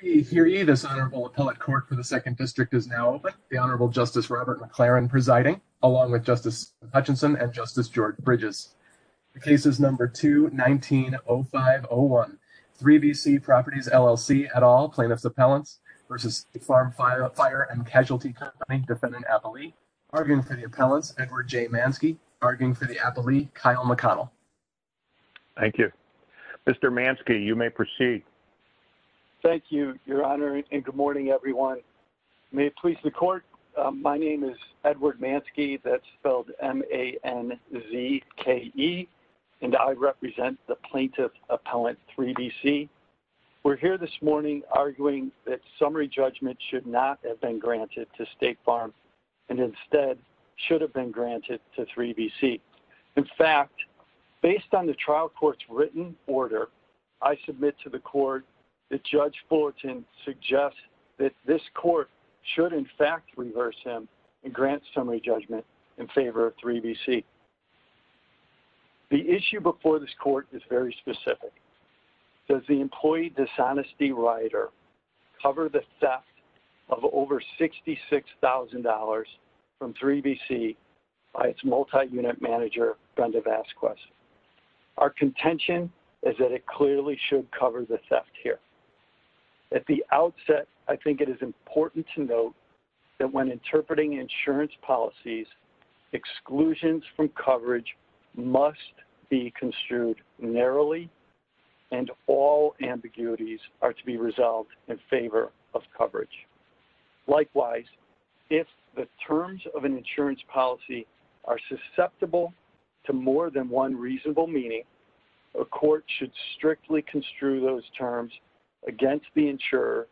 Hear ye, hear ye, this Honorable Appellate Court for the 2nd District is now open. The Honorable Justice Robert McLaren presiding, along with Justice Hutchinson and Justice George Bridges. The case is number 2-19-05-01. 3BC Properties, LLC, et al., Plaintiffs' Appellants v. State Farm Fire & Casualty Co., Defendant Appellee. Arguing for the Appellants, Edward J. Manske. Arguing for the Appellee, Kyle McConnell. Thank you. Mr. Manske, you may proceed. Thank you, Your Honor, and good morning, everyone. May it please the Court, my name is Edward Manske, that's spelled M-A-N-Z-K-E, and I represent the Plaintiff Appellant 3BC. We're here this morning arguing that summary judgment should not have been granted to State Farm and instead should have been granted to 3BC. In fact, based on the trial court's written order, I submit to the Court that Judge Fullerton suggests that this Court should, in fact, reverse him and grant summary judgment in favor of 3BC. The issue before this Court is very specific. Does the employee dishonesty rider cover the theft of over $66,000 from 3BC by its multi-unit manager, Brenda Vasquez? Our contention is that it clearly should cover the theft here. At the outset, I think it is important to note that when interpreting insurance policies, exclusions from coverage must be construed narrowly, and all ambiguities are to be resolved in favor of coverage. Likewise, if the terms of an insurance policy are susceptible to more than one reasonable meaning, a court should strictly construe those terms against the insurer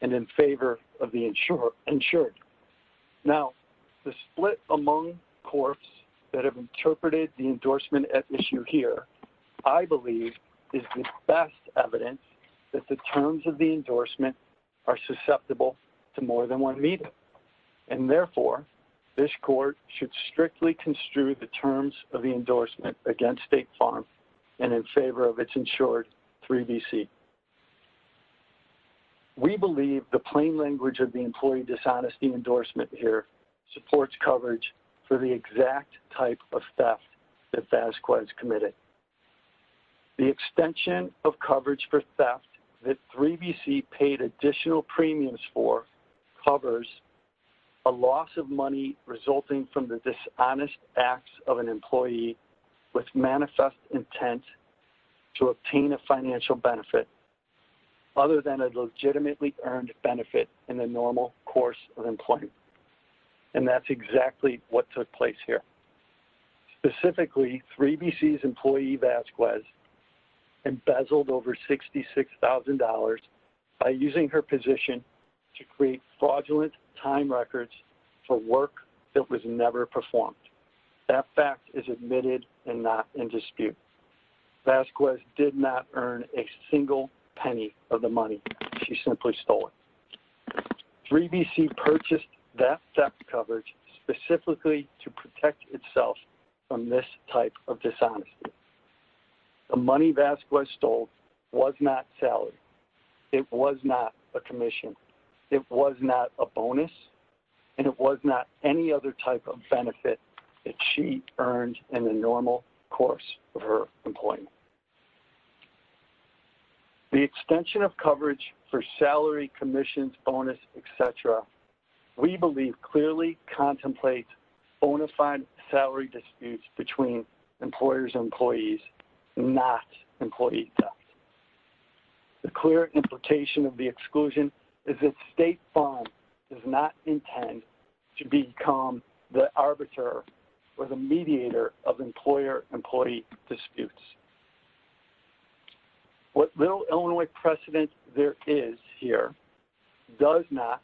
and in favor of the insured. Now, the split among courts that have interpreted the endorsement at issue here, I believe is the best evidence that the terms of the endorsement are susceptible to more than one meaning. And therefore, this Court should strictly construe the terms of the endorsement against State Farm and in favor of its insured, 3BC. We believe the plain language of the employee dishonesty endorsement here supports coverage for the exact type of theft that Vasquez committed. The extension of coverage for theft that 3BC paid additional premiums for covers a loss of money resulting from the dishonest acts of an employee with manifest intent to obtain a financial benefit other than a legitimately earned benefit in the normal course of employment. And that's exactly what took place here. Specifically, 3BC's employee Vasquez embezzled over $66,000 by using her position to create fraudulent time records for work that was never performed. That fact is admitted and not in dispute. Vasquez did not earn a single penny of the money. She simply stole it. 3BC purchased that theft coverage specifically to protect itself from this type of dishonesty. The money Vasquez stole was not salary. It was not a bonus. And it was not any other type of benefit that she earned in the normal course of her employment. The extension of coverage for salary, commissions, bonus, etc., we believe clearly contemplates bona fide salary disputes between employers and employees, not employee theft. The clear implication of the exclusion is that State Farm does not intend to become the arbiter or the mediator of employer-employee disputes. What little Illinois precedent there is here does not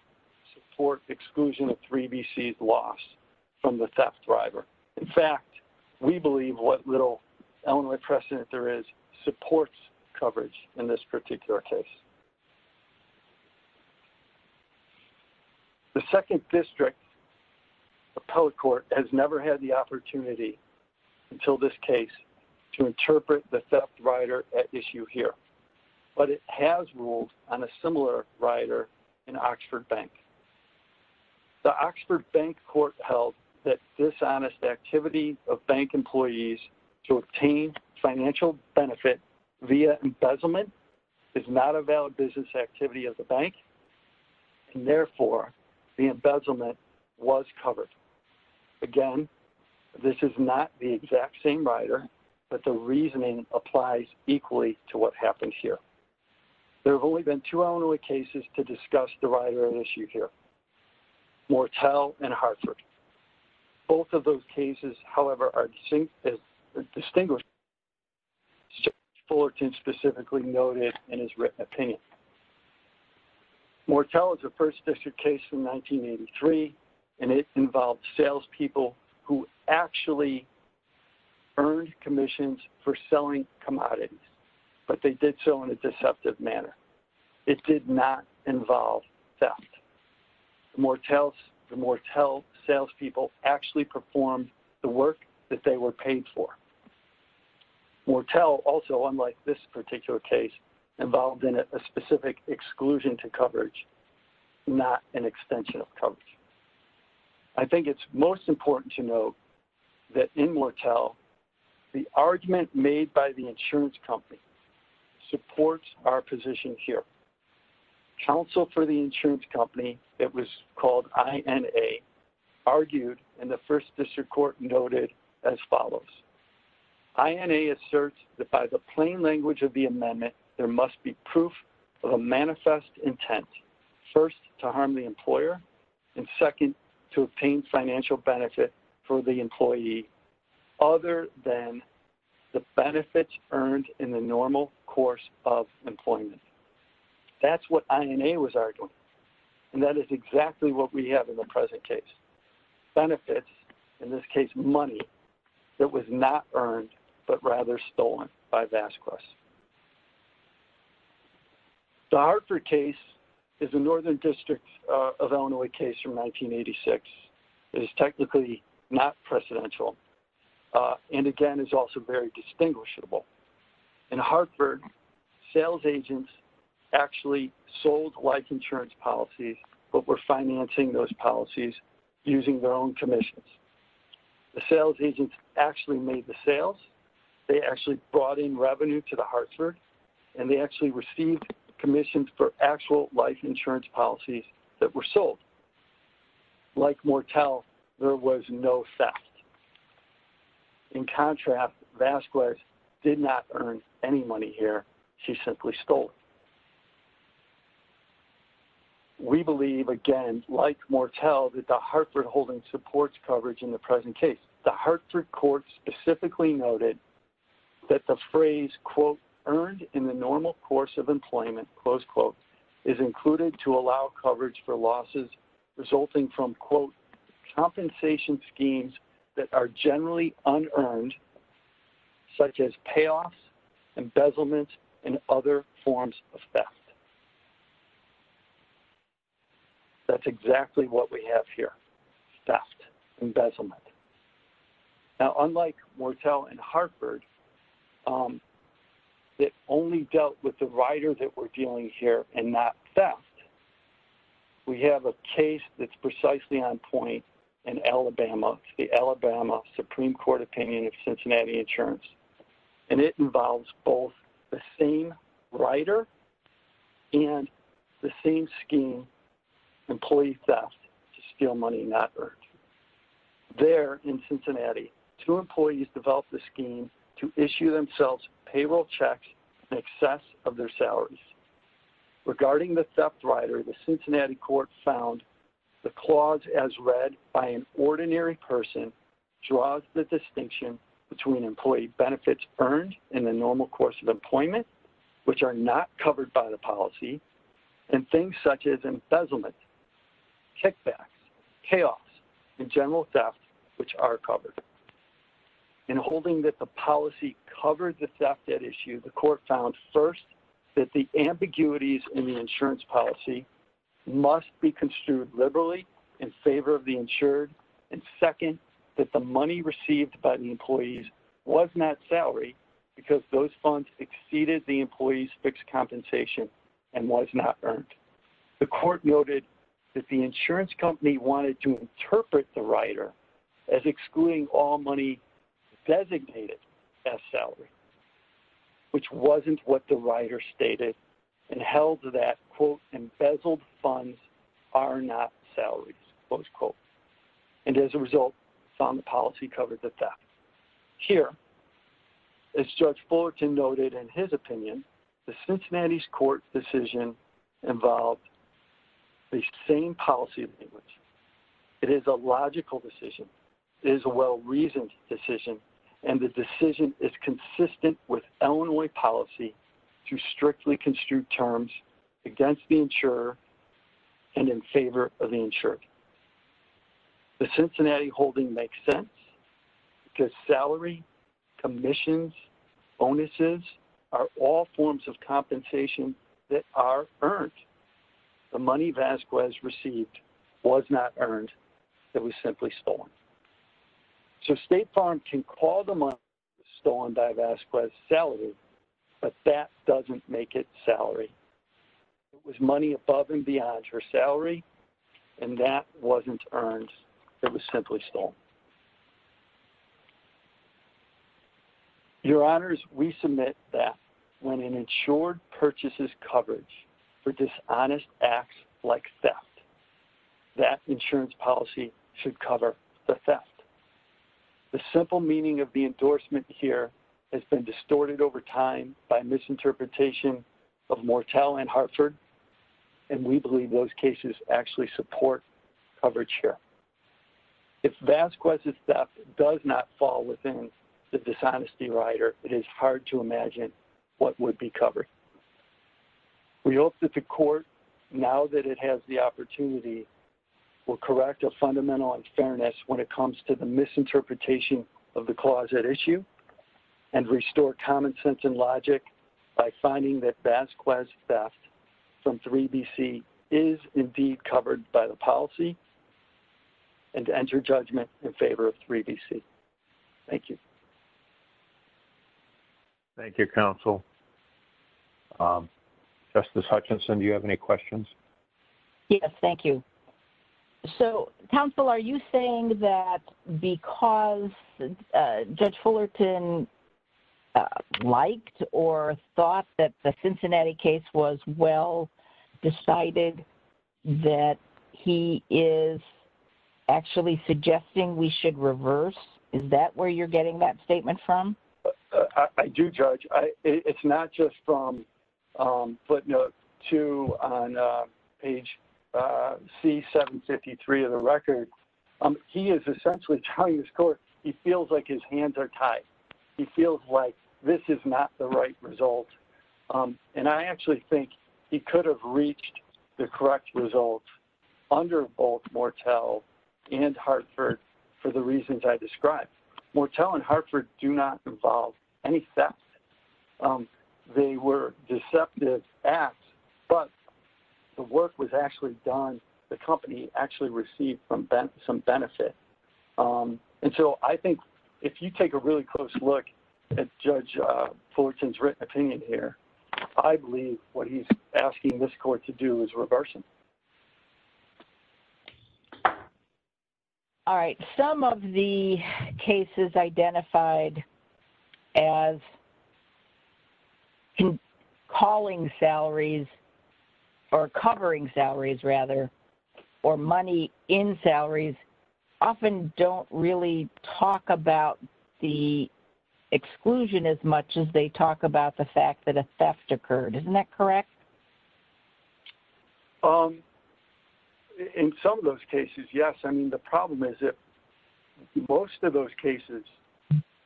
support exclusion of 3BC's loss from the theft driver. In fact, we believe what little Illinois precedent there is supports coverage in this particular case. The 2nd District Appellate Court has never had the opportunity until this case to interpret the theft rider at issue here. But it has ruled on a similar rider in Oxford Bank. The Oxford Bank Court held that dishonest activity of bank employees to obtain financial benefit via embezzlement is not a valid business activity of the bank, and therefore the embezzlement was covered. Again, this is not the exact same rider, but the reasoning applies equally to what happened here. There have only been two Illinois cases to discuss the rider at issue here, Mortell and Hartford. Both of those cases, however, are distinguished as Judge Fullerton specifically noted in his written opinion. Mortell is a 1st District case from 1983, and it involved salespeople who actually earned commissions for selling commodities, but they did so in a deceptive manner. It did not involve theft. The Mortell salespeople actually performed the work that they were paid for. Mortell also, unlike this particular case, involved in a specific exclusion to coverage, not an extension of coverage. I think it's most important to note that in Mortell, the argument made by the insurance company supports our position here. Counsel for the insurance company, it was called INA, argued in the 1st District Court noted as follows. INA asserts that by the plain language of the amendment, there must be proof of a manifest intent, first, to harm the employer, and second, to obtain financial benefit for the employee. Other than the benefits earned in the normal course of employment. That's what INA was arguing, and that is exactly what we have in the present case. Benefits, in this case money, that was not earned, but rather stolen by Vasquez. The Hartford case is a Northern District of Illinois case from 1986. It is technically not precedential, and again, is also very distinguishable. In Hartford, sales agents actually sold life insurance policies, but were financing those policies using their own commissions. The sales agents actually made the sales, they actually brought in revenue to the Hartford, and they actually received commissions for actual life insurance policies that were sold. Like Mortel, there was no theft. In contrast, Vasquez did not earn any money here. She simply stole it. We believe, again, like Mortel, that the Hartford holding supports coverage in the present case. The Hartford Court specifically noted that the phrase, quote, earned in the normal course of employment, close quote, is included to allow coverage for losses resulting from, quote, compensation schemes that are generally unearned, such as payoffs, embezzlement, and other forms of theft. That's exactly what we have here, theft, embezzlement. Now, unlike Mortel and Hartford, that only dealt with the rider that we're dealing here and not theft, we have a case that's precisely on point in Alabama, the Alabama Supreme Court opinion of Cincinnati Insurance, and it involves both the same rider and the same scheme, employee theft, to steal money not earned. There in Cincinnati, two employees developed the scheme to issue themselves payroll checks in excess of their salaries. Regarding the theft rider, the Cincinnati court found the clause as read by an ordinary person draws the distinction between employee benefits earned in the normal course of employment, which are not covered by the policy, and things such as embezzlement, kickbacks, payoffs, and general theft, which are covered. In holding that the policy covered the theft at issue, the court found first that the ambiguities in the insurance policy must be construed liberally in favor of the insured, and second, that the money received by the employees was not salaried because those funds exceeded the employees' fixed compensation and was not earned. The court noted that the insurance company wanted to interpret the rider as excluding all money designated as salary, which wasn't what the rider stated, and held that, quote, embezzled funds are not salaries, close quote. And as a result, found the policy covered the theft. Here, as Judge Fullerton noted in his opinion, the Cincinnati's court decision involved the same policy language. It is a logical decision. It is a well-reasoned decision, and the decision is consistent with Illinois policy to strictly construe terms against the insurer and in favor of the insured. The Cincinnati holding makes sense because salary, commissions, bonuses are all forms of compensation that are earned. The money Vasquez received was not earned. It was simply stolen. So State Farm can call the money stolen by Vasquez salaried, but that doesn't make it salary. It was money above and beyond her salary, and that wasn't earned. It was simply stolen. Your Honors, we submit that when an insured purchases coverage for dishonest acts like theft, that insurance policy should cover the theft. The simple meaning of the endorsement here has been distorted over time by misinterpretation of Mortel and Hartford, and we believe those cases actually support coverage here. If Vasquez's theft does not fall within the dishonesty rider, it is hard to imagine what would be covered. We hope that the Court, now that it has the opportunity, will correct a fundamental unfairness when it comes to the misinterpretation of the clause at issue and restore common sense and logic by finding that Vasquez's theft from 3BC is indeed covered by the policy and to enter judgment in favor of 3BC. Thank you. Thank you, Counsel. Justice Hutchinson, do you have any questions? Yes, thank you. So, Counsel, are you saying that because Judge Fullerton liked or thought that the Cincinnati case was well decided that he is actually suggesting we should reverse? Is that where you're getting that statement from? I do, Judge. It's not just from footnote 2 on page C753 of the record. He is essentially telling this Court he feels like his hands are tied. He feels like this is not the right result, and I actually think he could have reached the correct results under both Mortel and Hartford for the reasons I described. Mortel and Hartford do not involve any theft. They were deceptive acts, but the work was actually done. The company actually received some benefit. And so I think if you take a really close look at Judge Fullerton's written opinion here, I believe what he's asking this Court to do is reverse it. All right. Some of the cases identified as calling salaries, or covering salaries, rather, or money in salaries often don't really talk about the exclusion as much as they talk about the fact that a theft occurred. Isn't that correct? In some of those cases, yes. I mean, the problem is that most of those cases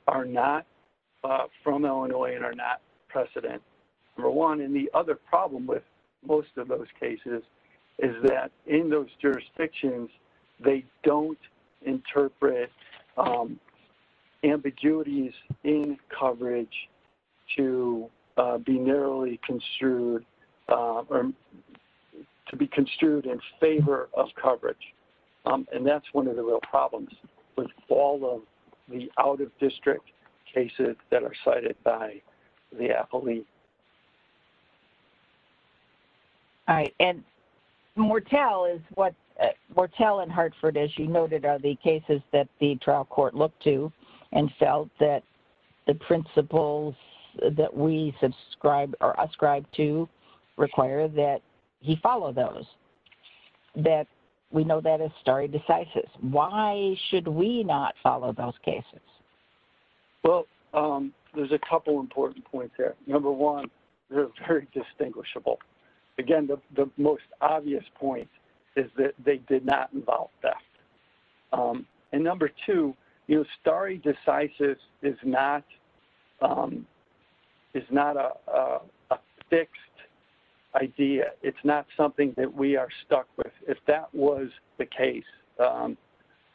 are not from Illinois and are not precedent, number one. And the other problem with most of those cases is that in those jurisdictions, they don't interpret ambiguities in coverage to be narrowly construed or to be construed in favor of coverage. And that's one of the real problems with all of the out-of-district cases that are cited by the affiliate. All right. And Mortell and Hartford, as you noted, are the cases that the trial court looked to and felt that the principles that we subscribe to require that he follow those. We know that as stare decisis. Why should we not follow those cases? Well, there's a couple important points there. Number one, they're very distinguishable. Again, the most obvious point is that they did not involve theft. And number two, stare decisis is not a fixed idea. It's not something that we are stuck with. If that was the case,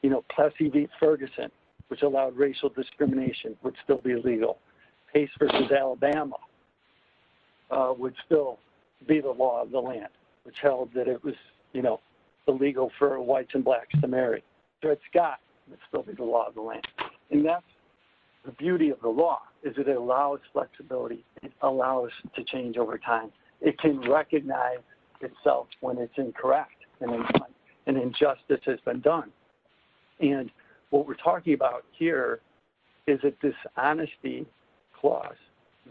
you know, Plessy v. Ferguson, which allowed racial discrimination, would still be illegal. Pace v. Alabama would still be the law of the land, which held that it was illegal for whites and blacks to marry. Fred Scott would still be the law of the land. And that's the beauty of the law, is it allows flexibility. It allows us to change over time. It can recognize itself when it's incorrect. An injustice has been done. And what we're talking about here is a dishonesty clause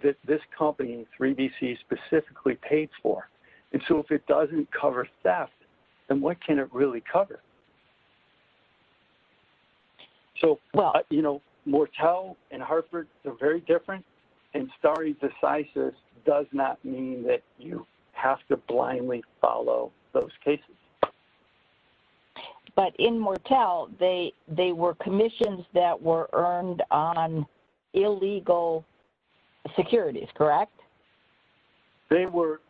that this company, 3BC, specifically paid for. And so if it doesn't cover theft, then what can it really cover? So, you know, Mortel and Hartford are very different, and stare decisis does not mean that you have to blindly follow those cases. But in Mortel, they were commissions that were earned on illegal securities, correct? They were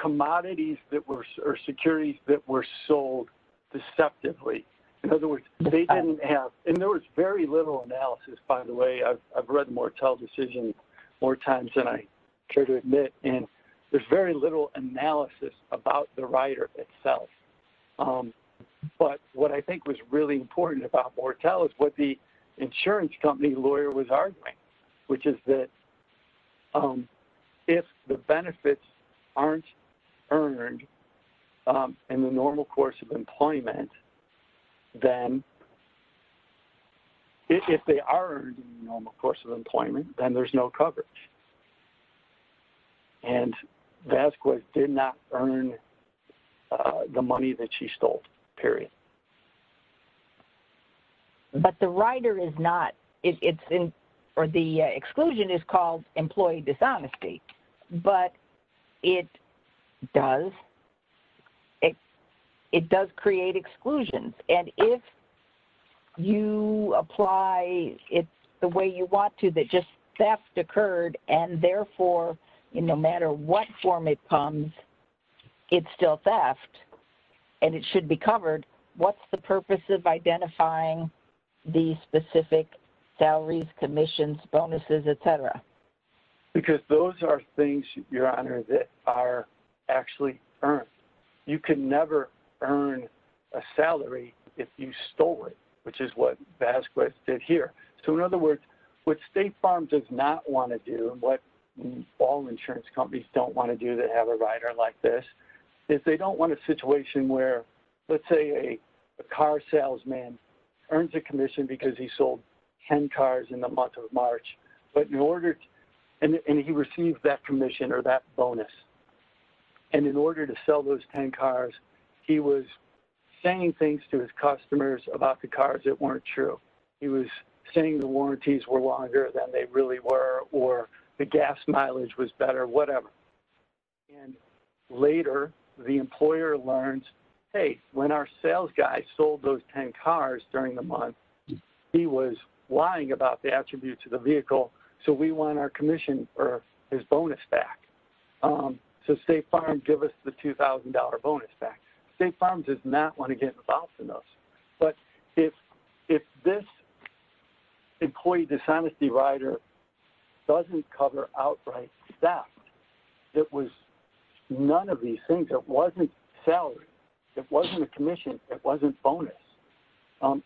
commodities or securities that were sold deceptively. In other words, they didn't have – and there was very little analysis, by the way. I've read the Mortel decision more times than I care to admit, and there's very little analysis about the rider itself. But what I think was really important about Mortel is what the insurance company lawyer was arguing, which is that if the benefits aren't earned in the normal course of employment, then – if they are earned in the normal course of employment, then there's no coverage. And Vasquez did not earn the money that she stole, period. But the rider is not – or the exclusion is called employee dishonesty. But it does – it does create exclusions. And if you apply it the way you want to, that just theft occurred, and therefore, no matter what form it comes, it's still theft, and it should be covered, what's the purpose of identifying these specific salaries, commissions, bonuses, et cetera? Because those are things, Your Honor, that are actually earned. You can never earn a salary if you stole it, which is what Vasquez did here. So in other words, what State Farm does not want to do, and what all insurance companies don't want to do that have a rider like this, is they don't want a situation where, let's say, a car salesman earns a commission because he sold 10 cars in the month of March. But in order – and he received that commission or that bonus. And in order to sell those 10 cars, he was saying things to his customers about the cars that weren't true. He was saying the warranties were longer than they really were, or the gas mileage was better, whatever. And later, the employer learns, hey, when our sales guy sold those 10 cars during the month, he was lying about the attributes of the vehicle, so we want our commission or his bonus back. So State Farm, give us the $2,000 bonus back. State Farm does not want to get involved in those. But if this employee dishonesty rider doesn't cover outright theft, it was none of these things. It wasn't salary. It wasn't a commission. It wasn't bonus.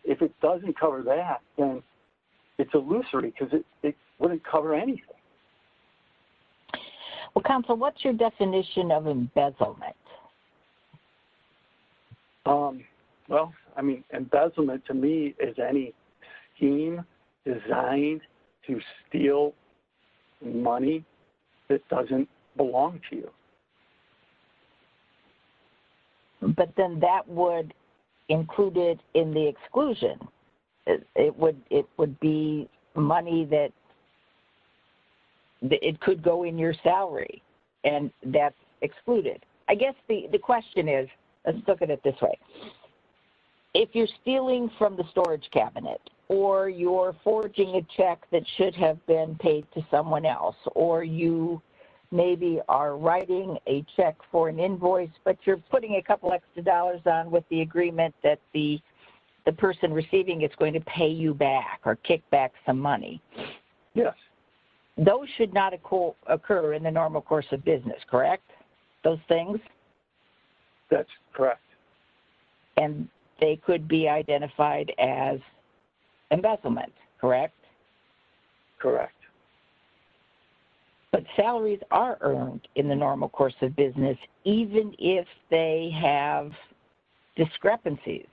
If it doesn't cover that, then it's illusory because it wouldn't cover anything. Well, Council, what's your definition of embezzlement? Well, I mean, embezzlement to me is any scheme designed to steal money that doesn't belong to you. But then that would include it in the exclusion. It would be money that it could go in your salary, and that's excluded. I guess the question is, let's look at it this way. If you're stealing from the storage cabinet, or you're forging a check that should have been paid to someone else, or you maybe are writing a check for an invoice, but you're putting a couple extra dollars on with the agreement that the person receiving it's going to pay you back or kick back some money. Yes. Those should not occur in the normal course of business, correct? Those things? That's correct. And they could be identified as embezzlement, correct? Correct. But salaries are earned in the normal course of business, even if they have discrepancies,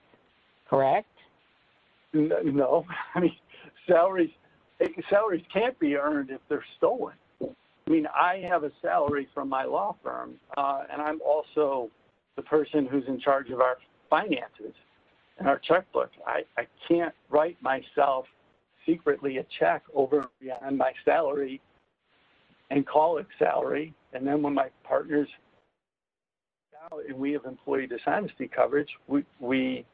correct? No. I mean, salaries can't be earned if they're stolen. I mean, I have a salary from my law firm, and I'm also the person who's in charge of our finances and our checkbook. I can't write myself secretly a check over my salary and call it salary. And then when my partner's salary, we have employee dishonesty coverage. We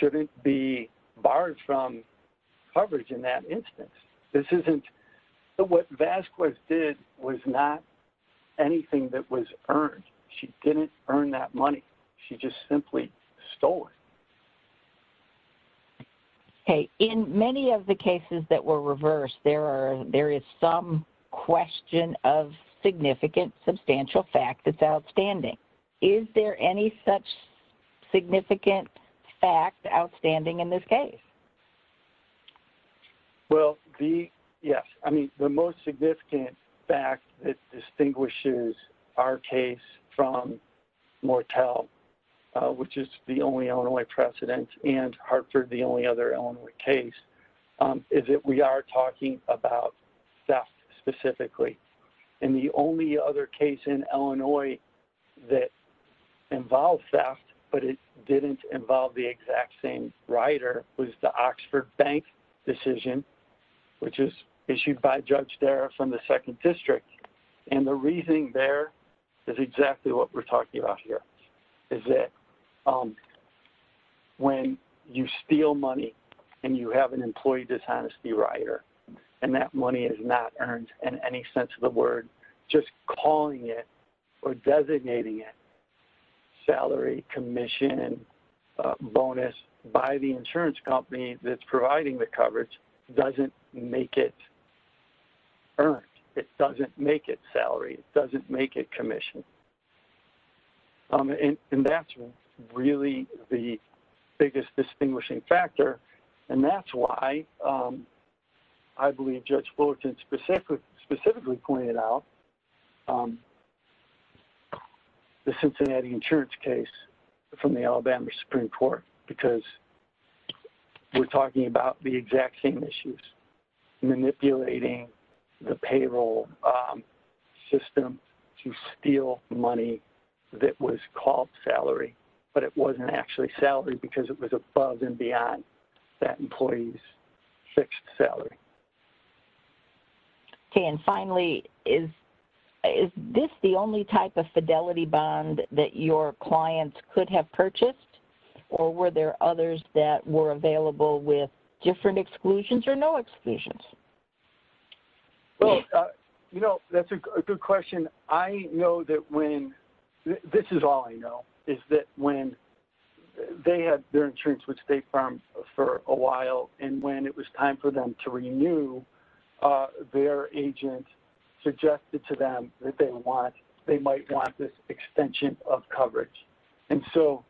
shouldn't be barred from coverage in that instance. What Vasquez did was not anything that was earned. She didn't earn that money. She just simply stole it. Okay. In many of the cases that were reversed, there is some question of significant substantial fact that's outstanding. Is there any such significant fact outstanding in this case? Well, yes. I mean, the most significant fact that distinguishes our case from Mortel, which is the only Illinois precedent, and Hartford, the only other Illinois case, is that we are talking about theft specifically. And the only other case in Illinois that involved theft, but it didn't involve the exact same rider, was the Oxford Bank decision, which was issued by Judge Darragh from the 2nd District. And the reasoning there is exactly what we're talking about here, is that when you steal money and you have an employee dishonesty rider, and that money is not earned in any sense of the word, just calling it or designating it salary, commission, bonus by the insurance company that's providing the coverage doesn't make it earned. It doesn't make it salary. It doesn't make it commission. And that's really the biggest distinguishing factor. And that's why I believe Judge Fullerton specifically pointed out the Cincinnati insurance case from the Alabama Supreme Court, because we're talking about the exact same issues, manipulating the payroll system to steal money that was called salary, but it wasn't actually salary because it was above and beyond. That employee's fixed salary. Okay, and finally, is this the only type of fidelity bond that your clients could have purchased, or were there others that were available with different exclusions or no exclusions? Well, you know, that's a good question. I know that when, this is all I know, is that when they had their insurance with State Farms for a while, and when it was time for them to renew, their agent suggested to them that they might want this extension of coverage. And so,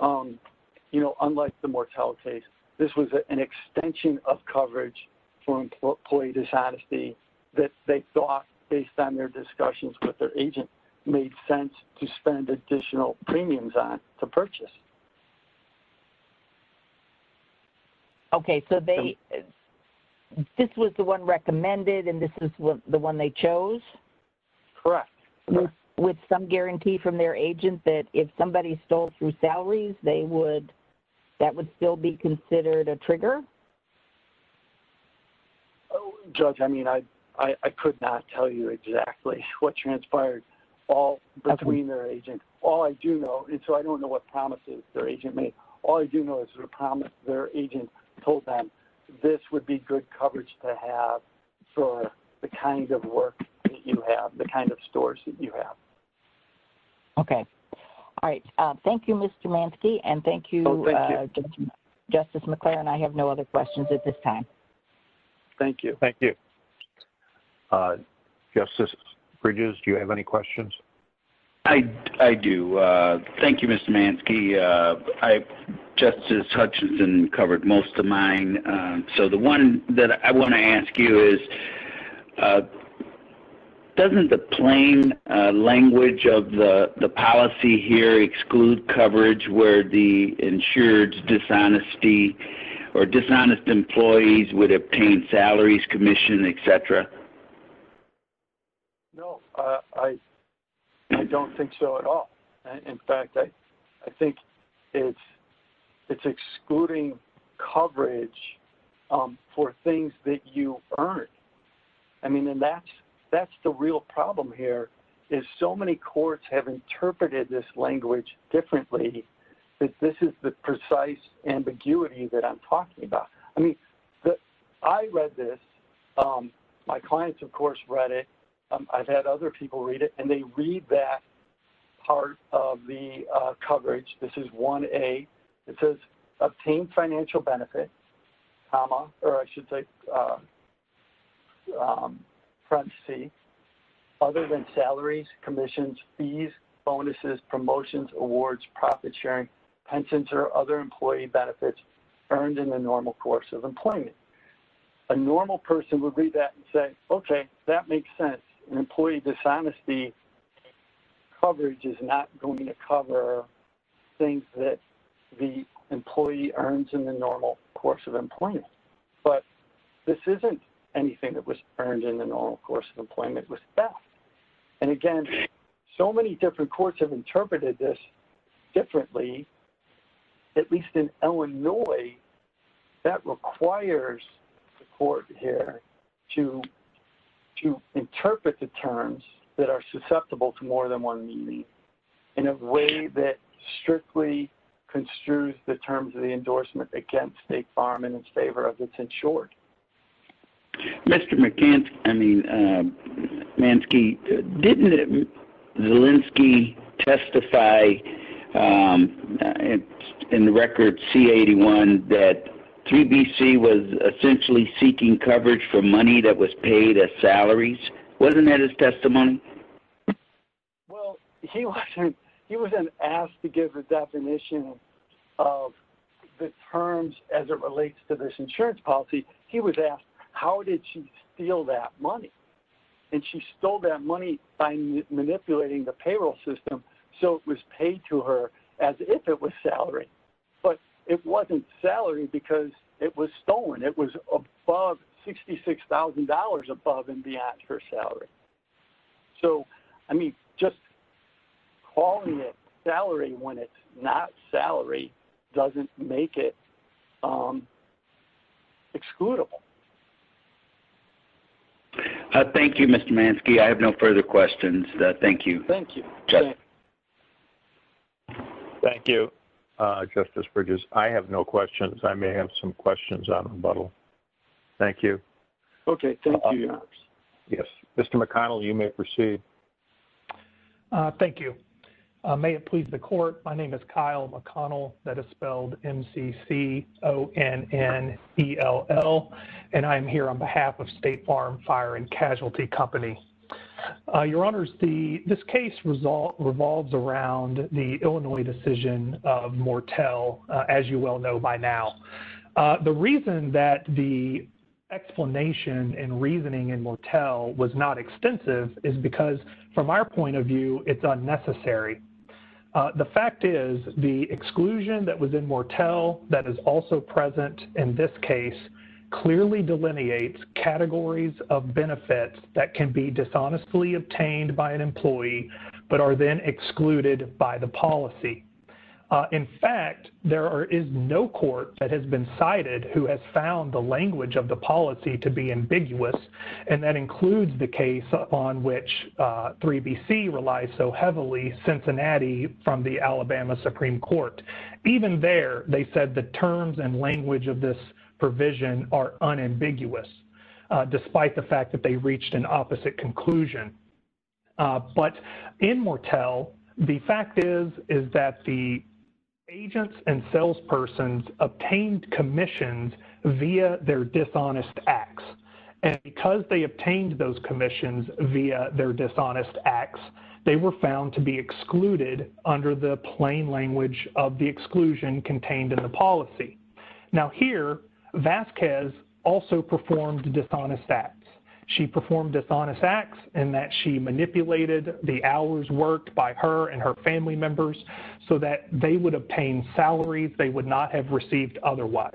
you know, unlike the mortality case, this was an extension of coverage for employee dishonesty that they thought, based on their discussions with their agent, made sense to spend additional premiums on to purchase. Okay, so they, this was the one recommended, and this is the one they chose? Correct. With some guarantee from their agent that if somebody stole through salaries, they would, that would still be considered a trigger? Judge, I mean, I could not tell you exactly what transpired between their agent. All I do know, and so I don't know what promises their agent made, all I do know is their agent told them this would be good coverage to have for the kind of work that you have, the kind of stores that you have. Okay. All right. Thank you, Mr. Manske, and thank you, Justice McClure, and I have no other questions at this time. Thank you. Thank you. Justice Bridges, do you have any questions? I do. Thank you, Mr. Manske. Justice Hutchinson covered most of mine, so the one that I want to ask you is, doesn't the plain language of the policy here exclude coverage where the insured dishonesty or dishonest employees would obtain salaries, commission, etc.? No, I don't think so at all. In fact, I think it's excluding coverage for things that you earn. I mean, and that's the real problem here is so many courts have interpreted this language differently that this is the precise ambiguity that I'm talking about. I mean, I read this. My clients, of course, read it. I've had other people read it, and they read that part of the coverage. This is 1A. It says, obtain financial benefit, comma, or I should say parenthesis, other than salaries, commissions, fees, bonuses, promotions, awards, profit sharing, pensions, or other employee benefits earned in the normal course of employment. A normal person would read that and say, okay, that makes sense. Employee dishonesty coverage is not going to cover things that the employee earns in the normal course of employment, but this isn't anything that was earned in the normal course of employment. And again, so many different courts have interpreted this differently, at least in Illinois, that requires the court here to interpret the terms that are susceptible to more than one meaning in a way that strictly construes the terms of the endorsement against a farm in its favor of its insured. Mr. Manske, didn't Zelinsky testify in the record C-81 that 3BC was essentially seeking coverage for money that was paid as salaries? Wasn't that his testimony? Well, he wasn't asked to give a definition of the terms as it relates to this insurance policy. He was asked, how did she steal that money? And she stole that money by manipulating the payroll system so it was paid to her as if it was salary. But it wasn't salary because it was stolen. It was above $66,000 above and beyond her salary. So, I mean, just calling it salary when it's not salary doesn't make it excludable. Thank you, Mr. Manske. I have no further questions. Thank you. Thank you. Thank you, Justice Bridges. I have no questions. I may have some questions on rebuttal. Thank you. Okay. Thank you. Yes. Mr. McConnell, you may proceed. Thank you. May it please the court, my name is Kyle McConnell, that is spelled M-C-C-O-N-N-E-L-L, and I am here on behalf of State Farm Fire and Casualty Company. Your Honors, this case revolves around the Illinois decision of Mortel, as you well know by now. The reason that the explanation and reasoning in Mortel was not extensive is because, from our point of view, it's unnecessary. The fact is the exclusion that was in Mortel that is also present in this case clearly delineates categories of benefits that can be dishonestly obtained by an employee but are then excluded by the policy. In fact, there is no court that has been cited who has found the language of the policy to be ambiguous, and that includes the case upon which 3BC relies so heavily, Cincinnati, from the Alabama Supreme Court. Even there, they said the terms and language of this provision are unambiguous, despite the fact that they reached an opposite conclusion. But in Mortel, the fact is that the agents and salespersons obtained commissions via their dishonest acts, and because they obtained those commissions via their dishonest acts, they were found to be excluded under the plain language of the exclusion contained in the policy. Now here, Vasquez also performed dishonest acts. She performed dishonest acts in that she manipulated the hours worked by her and her family members so that they would obtain salaries they would not have received otherwise.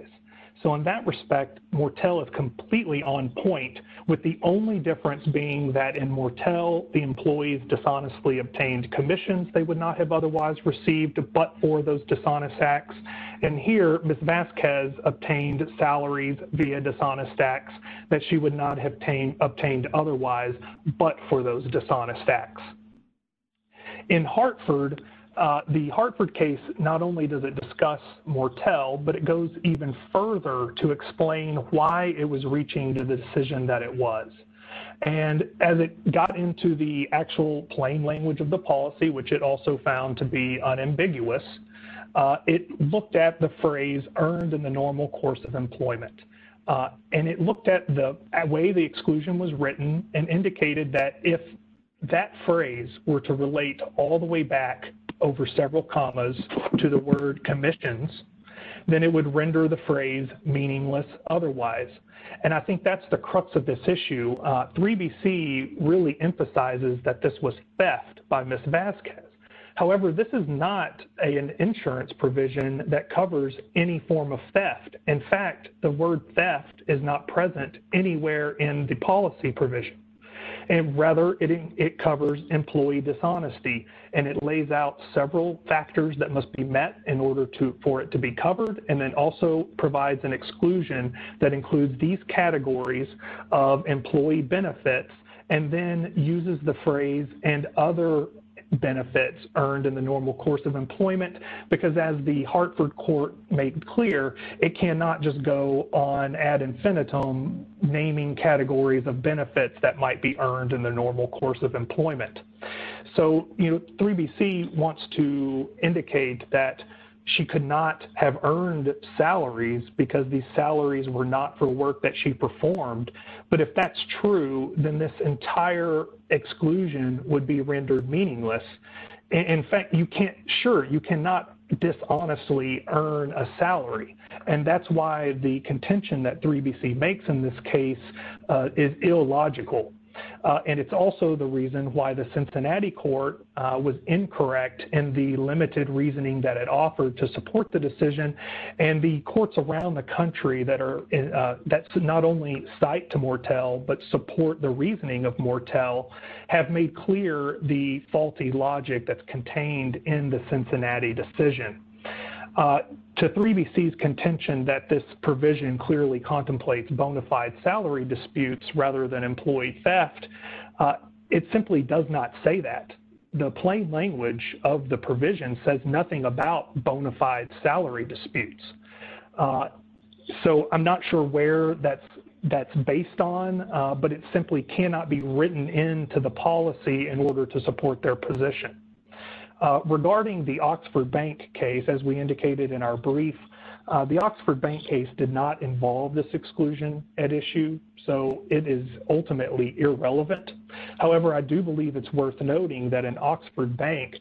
So in that respect, Mortel is completely on point, with the only difference being that in Mortel, the employees dishonestly obtained commissions they would not have otherwise received but for those dishonest acts. And here, Ms. Vasquez obtained salaries via dishonest acts that she would not have obtained otherwise but for those dishonest acts. In Hartford, the Hartford case, not only does it discuss Mortel, but it goes even further to explain why it was reaching to the decision that it was. And as it got into the actual plain language of the policy, which it also found to be unambiguous, it looked at the phrase earned in the normal course of employment. And it looked at the way the exclusion was written and indicated that if that phrase were to relate all the way back over several commas to the word commissions, then it would render the phrase meaningless otherwise. And I think that's the crux of this issue. 3BC really emphasizes that this was theft by Ms. Vasquez. However, this is not an insurance provision that covers any form of theft. In fact, the word theft is not present anywhere in the policy provision. And rather, it covers employee dishonesty. And it lays out several factors that must be met in order for it to be covered and then also provides an exclusion that includes these categories of employee benefits and then uses the phrase and other benefits earned in the normal course of employment. Because as the Hartford Court made clear, it cannot just go on ad infinitum naming categories of benefits that might be earned in the normal course of employment. So 3BC wants to indicate that she could not have earned salaries because these salaries were not for work that she performed. But if that's true, then this entire exclusion would be rendered meaningless. In fact, sure, you cannot dishonestly earn a salary. And that's why the contention that 3BC makes in this case is illogical. And it's also the reason why the Cincinnati court was incorrect in the limited reasoning that it offered to support the decision. And the courts around the country that not only cite to Mortell but support the reasoning of Mortell have made clear the faulty logic that's contained in the Cincinnati decision. To 3BC's contention that this provision clearly contemplates bona fide salary disputes rather than employee theft, it simply does not say that. The plain language of the provision says nothing about bona fide salary disputes. So I'm not sure where that's based on, but it simply cannot be written into the policy in order to support their position. Regarding the Oxford Bank case, as we indicated in our brief, the Oxford Bank case did not involve this exclusion at issue. So it is ultimately irrelevant. However, I do believe it's worth noting that in Oxford Bank,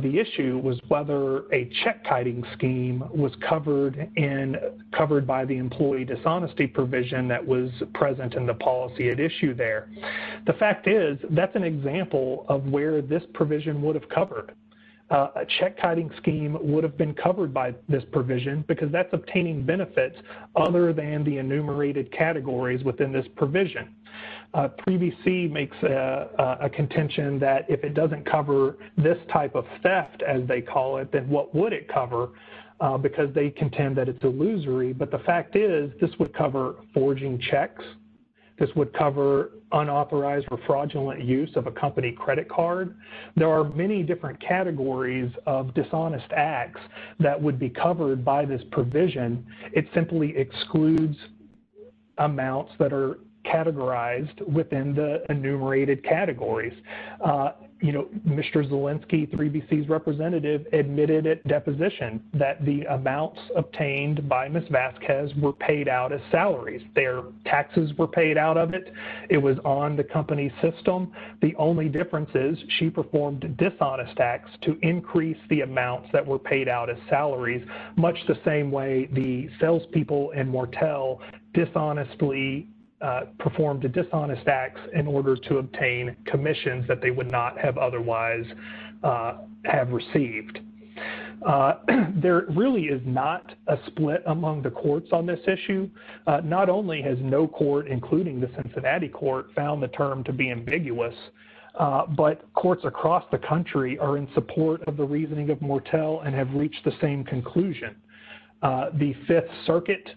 the issue was whether a check-kiting scheme was covered by the employee dishonesty provision that was present in the policy at issue there. The fact is that's an example of where this provision would have covered. A check-kiting scheme would have been covered by this provision because that's obtaining benefits other than the enumerated categories within this provision. 3BC makes a contention that if it doesn't cover this type of theft, as they call it, then what would it cover because they contend that it's illusory. But the fact is this would cover forging checks. This would cover unauthorized or fraudulent use of a company credit card. There are many different categories of dishonest acts that would be covered by this provision. It simply excludes amounts that are categorized within the enumerated categories. You know, Mr. Zielinski, 3BC's representative, admitted at deposition that the amounts obtained by Ms. Vasquez were paid out as salaries. Their taxes were paid out of it. It was on the company's system. The only difference is she performed a dishonest tax to increase the amounts that were paid out as salaries, much the same way the salespeople in Wartell dishonestly performed a dishonest tax in order to obtain commissions that they would not have otherwise have received. There really is not a split among the courts on this issue. Not only has no court, including the Cincinnati court, found the term to be ambiguous, but courts across the country are in support of the reasoning of Wartell and have reached the same conclusion. The Fifth Circuit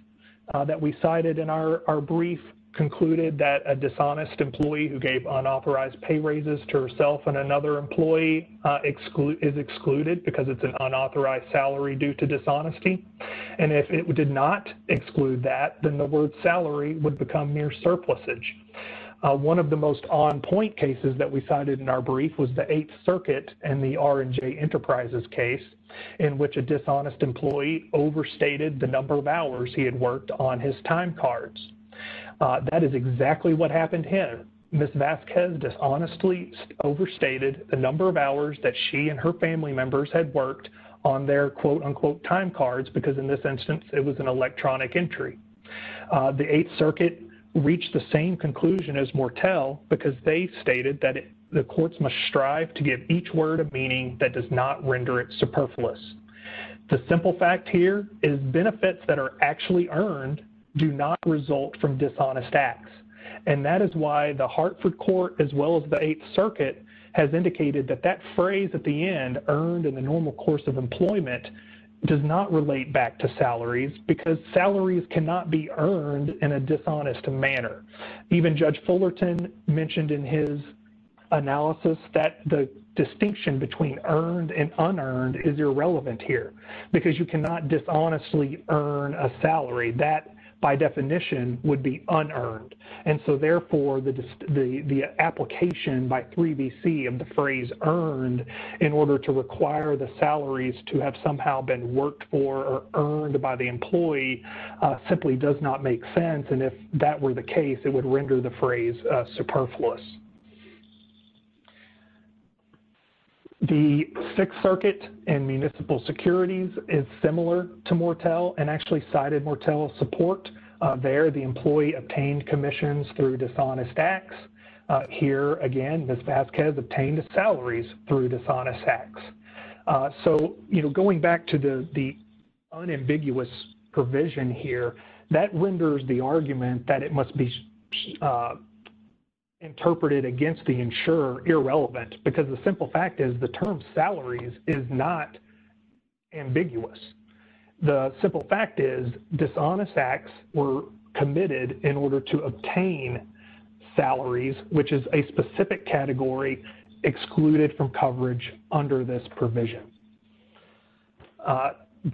that we cited in our brief concluded that a dishonest employee who gave unauthorized pay raises to herself and another employee is excluded because it's an unauthorized salary due to dishonesty. And if it did not exclude that, then the word salary would become mere surplusage. One of the most on-point cases that we cited in our brief was the Eighth Circuit and the R&J Enterprises case in which a dishonest employee overstated the number of hours he had worked on his time cards. That is exactly what happened here. Ms. Vasquez dishonestly overstated the number of hours that she and her family members had worked on their quote-unquote time cards because in this instance it was an electronic entry. The Eighth Circuit reached the same conclusion as Wartell because they stated that the courts must strive to give each word of meaning that does not render it superfluous. The simple fact here is benefits that are actually earned do not result from dishonest acts. And that is why the Hartford Court as well as the Eighth Circuit has indicated that that phrase at the end, earned in the normal course of employment, does not relate back to salaries because salaries cannot be earned in a dishonest manner. Even Judge Fullerton mentioned in his analysis that the distinction between earned and unearned is irrelevant here because you cannot dishonestly earn a salary. That, by definition, would be unearned. And so, therefore, the application by 3BC of the phrase earned in order to require the salaries to have somehow been worked for or earned by the employee simply does not make sense. And if that were the case, it would render the phrase superfluous. The Sixth Circuit and municipal securities is similar to Wartell and actually cited Wartell's support there. The employee obtained commissions through dishonest acts. Here, again, Ms. Vasquez obtained salaries through dishonest acts. So, you know, going back to the unambiguous provision here, that renders the argument that it must be interpreted against the insurer irrelevant because the simple fact is the term salaries is not ambiguous. The simple fact is dishonest acts were committed in order to obtain salaries, which is a specific category excluded from coverage under this provision.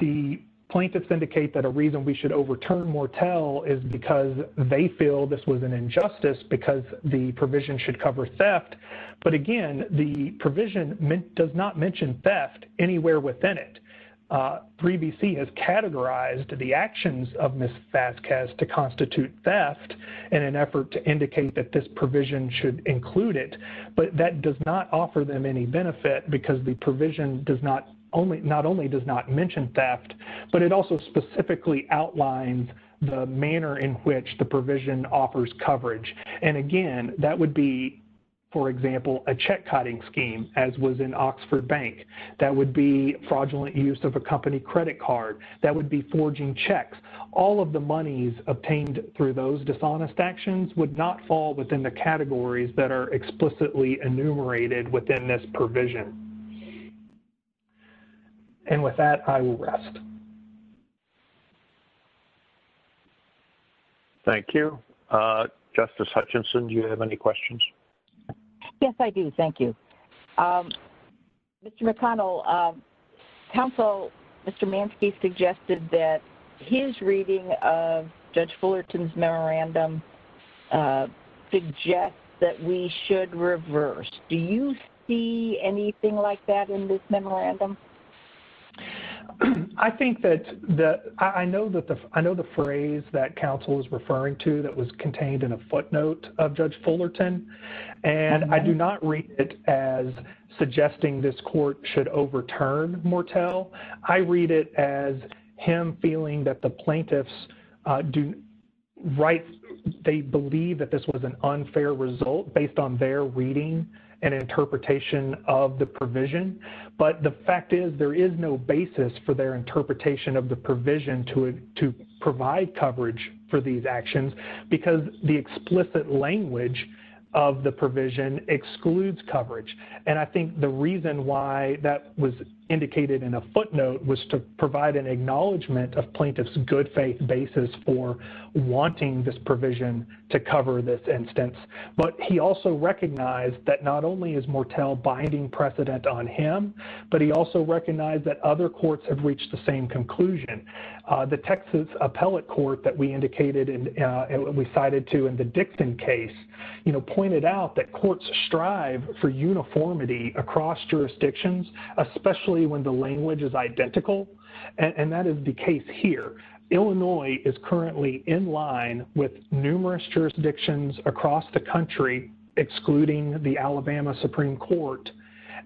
The plaintiffs indicate that a reason we should overturn Wartell is because they feel this was an injustice because the provision should cover theft. But, again, the provision does not mention theft anywhere within it. 3BC has categorized the actions of Ms. Vasquez to constitute theft in an effort to indicate that this provision should include it. But that does not offer them any benefit because the provision not only does not mention theft, but it also specifically outlines the manner in which the provision offers coverage. And, again, that would be, for example, a check-cotting scheme as was in Oxford Bank. That would be fraudulent use of a company credit card. That would be forging checks. All of the monies obtained through those dishonest actions would not fall within the categories that are explicitly enumerated within this provision. And with that, I will rest. Thank you. Justice Hutchinson, do you have any questions? Yes, I do. Thank you. Mr. McConnell, counsel, Mr. Manski, suggested that his reading of Judge Fullerton's memorandum suggests that we should reverse. Do you see anything like that in this memorandum? I think that—I know the phrase that counsel is referring to that was contained in a footnote of Judge Fullerton, and I do not read it as suggesting this court should overturn Mortell. I read it as him feeling that the plaintiffs do—they believe that this was an unfair result based on their reading and interpretation of the provision. But the fact is there is no basis for their interpretation of the provision to provide coverage for these actions because the explicit language of the provision excludes coverage. And I think the reason why that was indicated in a footnote was to provide an acknowledgement of plaintiffs' good-faith basis for wanting this provision to cover this instance. But he also recognized that not only is Mortell binding precedent on him, but he also recognized that other courts have reached the same conclusion. The Texas Appellate Court that we indicated and we cited to in the Dixon case, you know, pointed out that courts strive for uniformity across jurisdictions, especially when the language is identical, and that is the case here. Illinois is currently in line with numerous jurisdictions across the country, excluding the Alabama Supreme Court.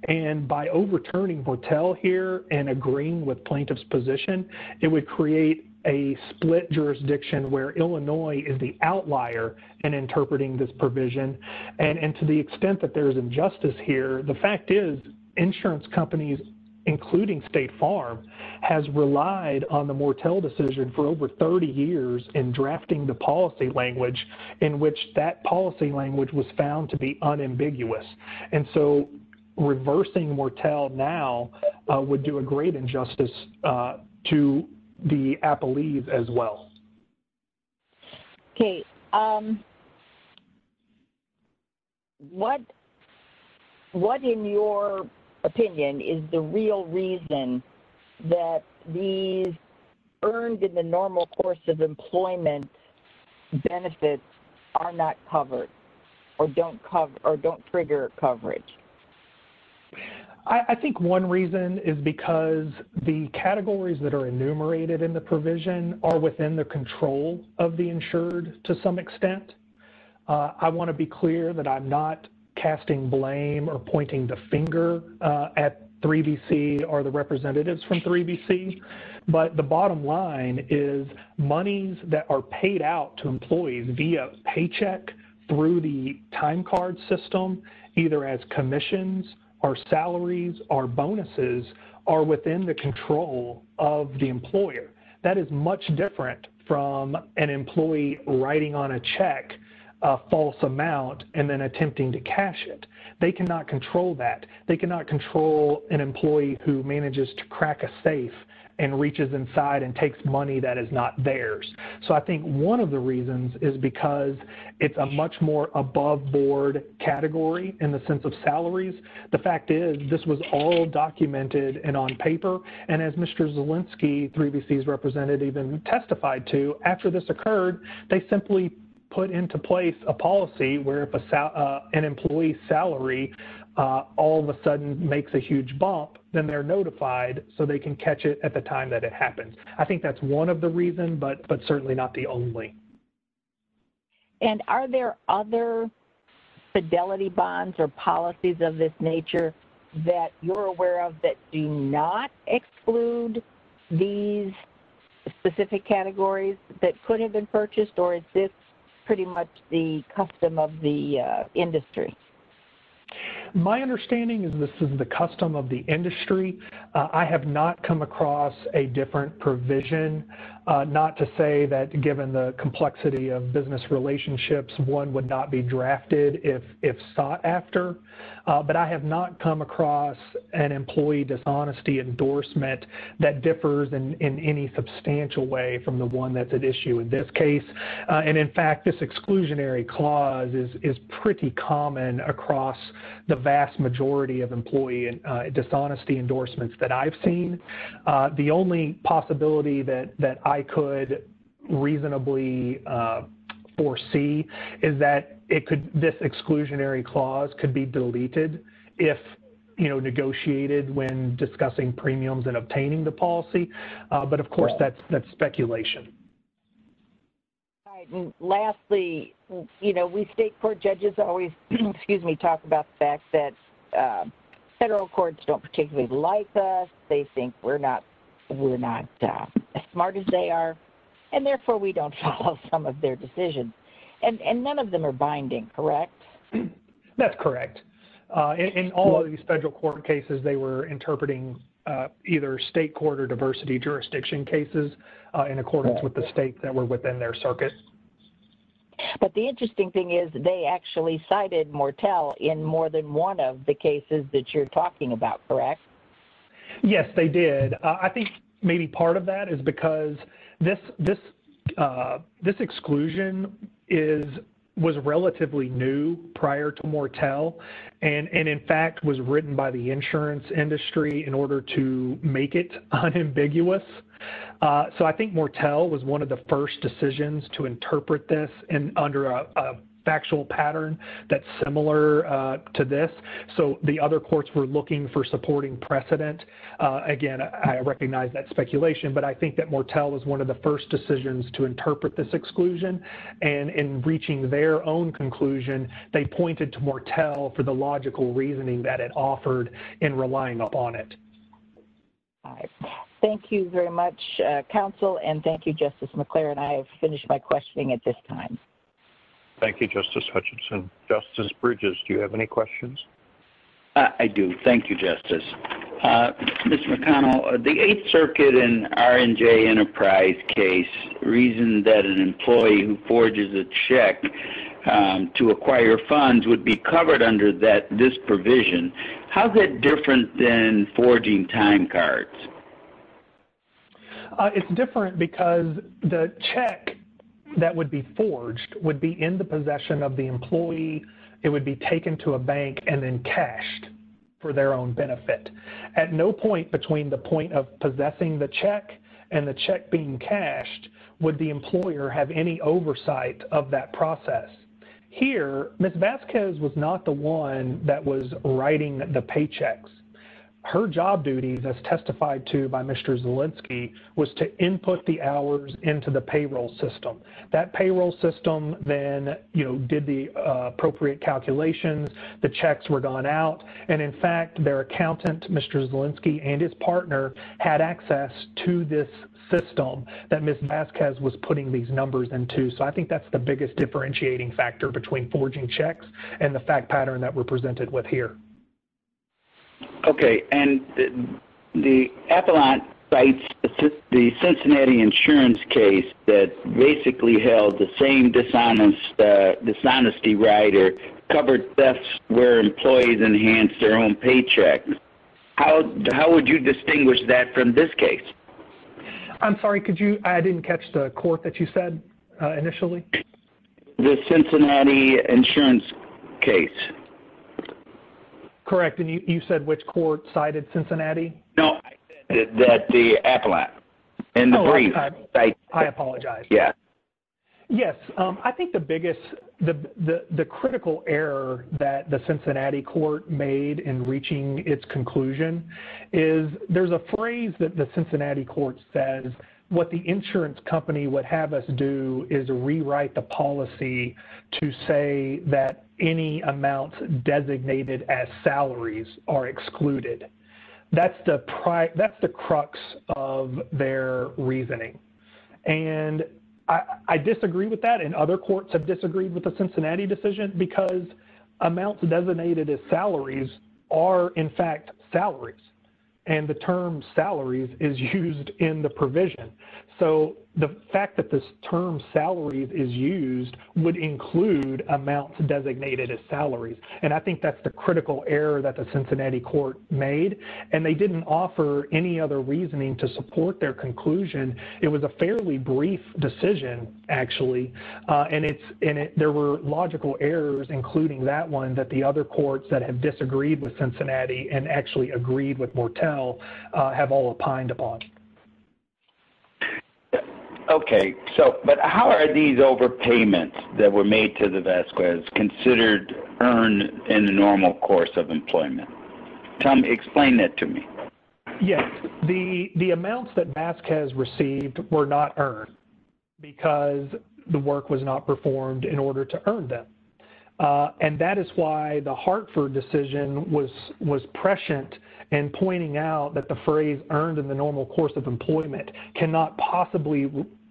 And by overturning Mortell here and agreeing with plaintiffs' position, it would create a split jurisdiction where Illinois is the outlier in interpreting this provision. And to the extent that there is injustice here, the fact is insurance companies, including State Farm, has relied on the Mortell decision for over 30 years in drafting the policy language in which that policy language was found to be unambiguous. And so reversing Mortell now would do a great injustice to the Appellees as well. Okay. What, in your opinion, is the real reason that these earned in the normal course of employment benefits are not covered or don't trigger coverage? I think one reason is because the categories that are enumerated in the provision are within the control of the insured to some extent. I want to be clear that I'm not casting blame or pointing the finger at 3BC or the representatives from 3BC. But the bottom line is monies that are paid out to employees via paycheck through the time card system, either as commissions or salaries or bonuses, are within the control of the employer. That is much different from an employee writing on a check a false amount and then attempting to cash it. They cannot control that. And reaches inside and takes money that is not theirs. So I think one of the reasons is because it's a much more above board category in the sense of salaries. The fact is this was all documented and on paper. And as Mr. Zielinski, 3BC's representative, testified to, after this occurred, they simply put into place a policy where if an employee's salary all of a sudden makes a huge bump, then they're notified so they can catch it at the time that it happens. I think that's one of the reasons, but certainly not the only. And are there other fidelity bonds or policies of this nature that you're aware of that do not exclude these specific categories that could have been purchased? Or is this pretty much the custom of the industry? My understanding is this is the custom of the industry. I have not come across a different provision. Not to say that given the complexity of business relationships, one would not be drafted if sought after. But I have not come across an employee dishonesty endorsement that differs in any substantial way from the one that's at issue in this case. And, in fact, this exclusionary clause is pretty common across the vast majority of employee dishonesty endorsements that I've seen. The only possibility that I could reasonably foresee is that this exclusionary clause could be deleted if negotiated when discussing premiums and obtaining the policy. But, of course, that's speculation. Lastly, we state court judges always talk about the fact that federal courts don't particularly like us. They think we're not as smart as they are. And, therefore, we don't follow some of their decisions. And none of them are binding, correct? That's correct. In all of these federal court cases, they were interpreting either state court or diversity jurisdiction cases in accordance with the states that were within their circuit. But the interesting thing is they actually cited Mortel in more than one of the cases that you're talking about, correct? Yes, they did. I think maybe part of that is because this exclusion was relatively new prior to Mortel and, in fact, was written by the insurance industry in order to make it unambiguous. So I think Mortel was one of the first decisions to interpret this under a factual pattern that's similar to this. So the other courts were looking for supporting precedent. Again, I recognize that's speculation. But I think that Mortel was one of the first decisions to interpret this exclusion. And in reaching their own conclusion, they pointed to Mortel for the logical reasoning that it offered in relying upon it. All right. Thank you very much, counsel. And thank you, Justice McClure. And I have finished my questioning at this time. Thank you, Justice Hutchinson. I do. Thank you, Justice. Mr. McConnell, the Eighth Circuit and R&J Enterprise case reasoned that an employee who forges a check to acquire funds would be covered under this provision. How is that different than forging time cards? It's different because the check that would be forged would be in the possession of the employee. It would be taken to a bank and then cashed for their own benefit. At no point between the point of possessing the check and the check being cashed would the employer have any oversight of that process. Here, Ms. Vasquez was not the one that was writing the paychecks. Her job duty, as testified to by Mr. Zielinski, was to input the hours into the payroll system. That payroll system then, you know, did the appropriate calculations. The checks were gone out. And in fact, their accountant, Mr. Zielinski, and his partner had access to this system that Ms. Vasquez was putting these numbers into. So I think that's the biggest differentiating factor between forging checks and the fact pattern that we're presented with here. Okay. And the Avalon Cites, the Cincinnati insurance case that basically held the same dishonesty rider, covered thefts where employees enhanced their own paycheck. How would you distinguish that from this case? I'm sorry. I didn't catch the quote that you said initially. The Cincinnati insurance case. Correct. And you said which court cited Cincinnati? No, the Avalon and the brief. I apologize. Yeah. Yes. I think the biggest, the critical error that the Cincinnati court made in reaching its conclusion is there's a phrase that the Cincinnati court says, what the insurance company would have us do is rewrite the policy to say that any amounts designated as salaries are excluded. That's the crux of their reasoning. And I disagree with that. And other courts have disagreed with the Cincinnati decision because amounts designated as salaries are, in fact, salaries. And the term salaries is used in the provision. So the fact that this term salaries is used would include amounts designated as salaries. And I think that's the critical error that the Cincinnati court made. And they didn't offer any other reasoning to support their conclusion. It was a fairly brief decision, actually. And there were logical errors, including that one, that the other courts that have disagreed with Cincinnati and actually agreed with Mortel have all opined upon. Okay. So but how are these overpayments that were made to the Vasquez considered earned in the normal course of employment? Tom, explain that to me. Yes. The amounts that Vasquez received were not earned because the work was not performed in order to earn them. And that is why the Hartford decision was prescient in pointing out that the phrase earned in the normal course of employment cannot possibly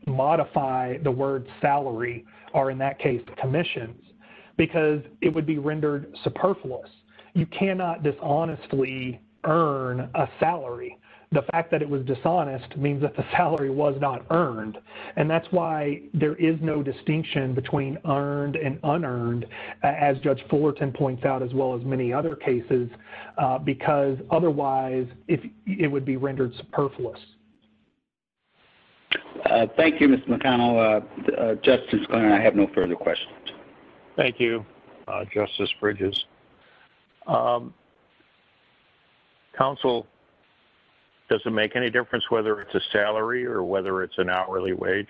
modify the word salary or, in that case, commissions because it would be rendered superfluous. You cannot dishonestly earn a salary. The fact that it was dishonest means that the salary was not earned. And that's why there is no distinction between earned and unearned, as Judge Fullerton points out, as well as many other cases, because otherwise it would be rendered superfluous. Thank you, Mr. McConnell. Justice Garner, I have no further questions. Thank you. Justice Bridges. Counsel, does it make any difference whether it's a salary or whether it's an hourly wage?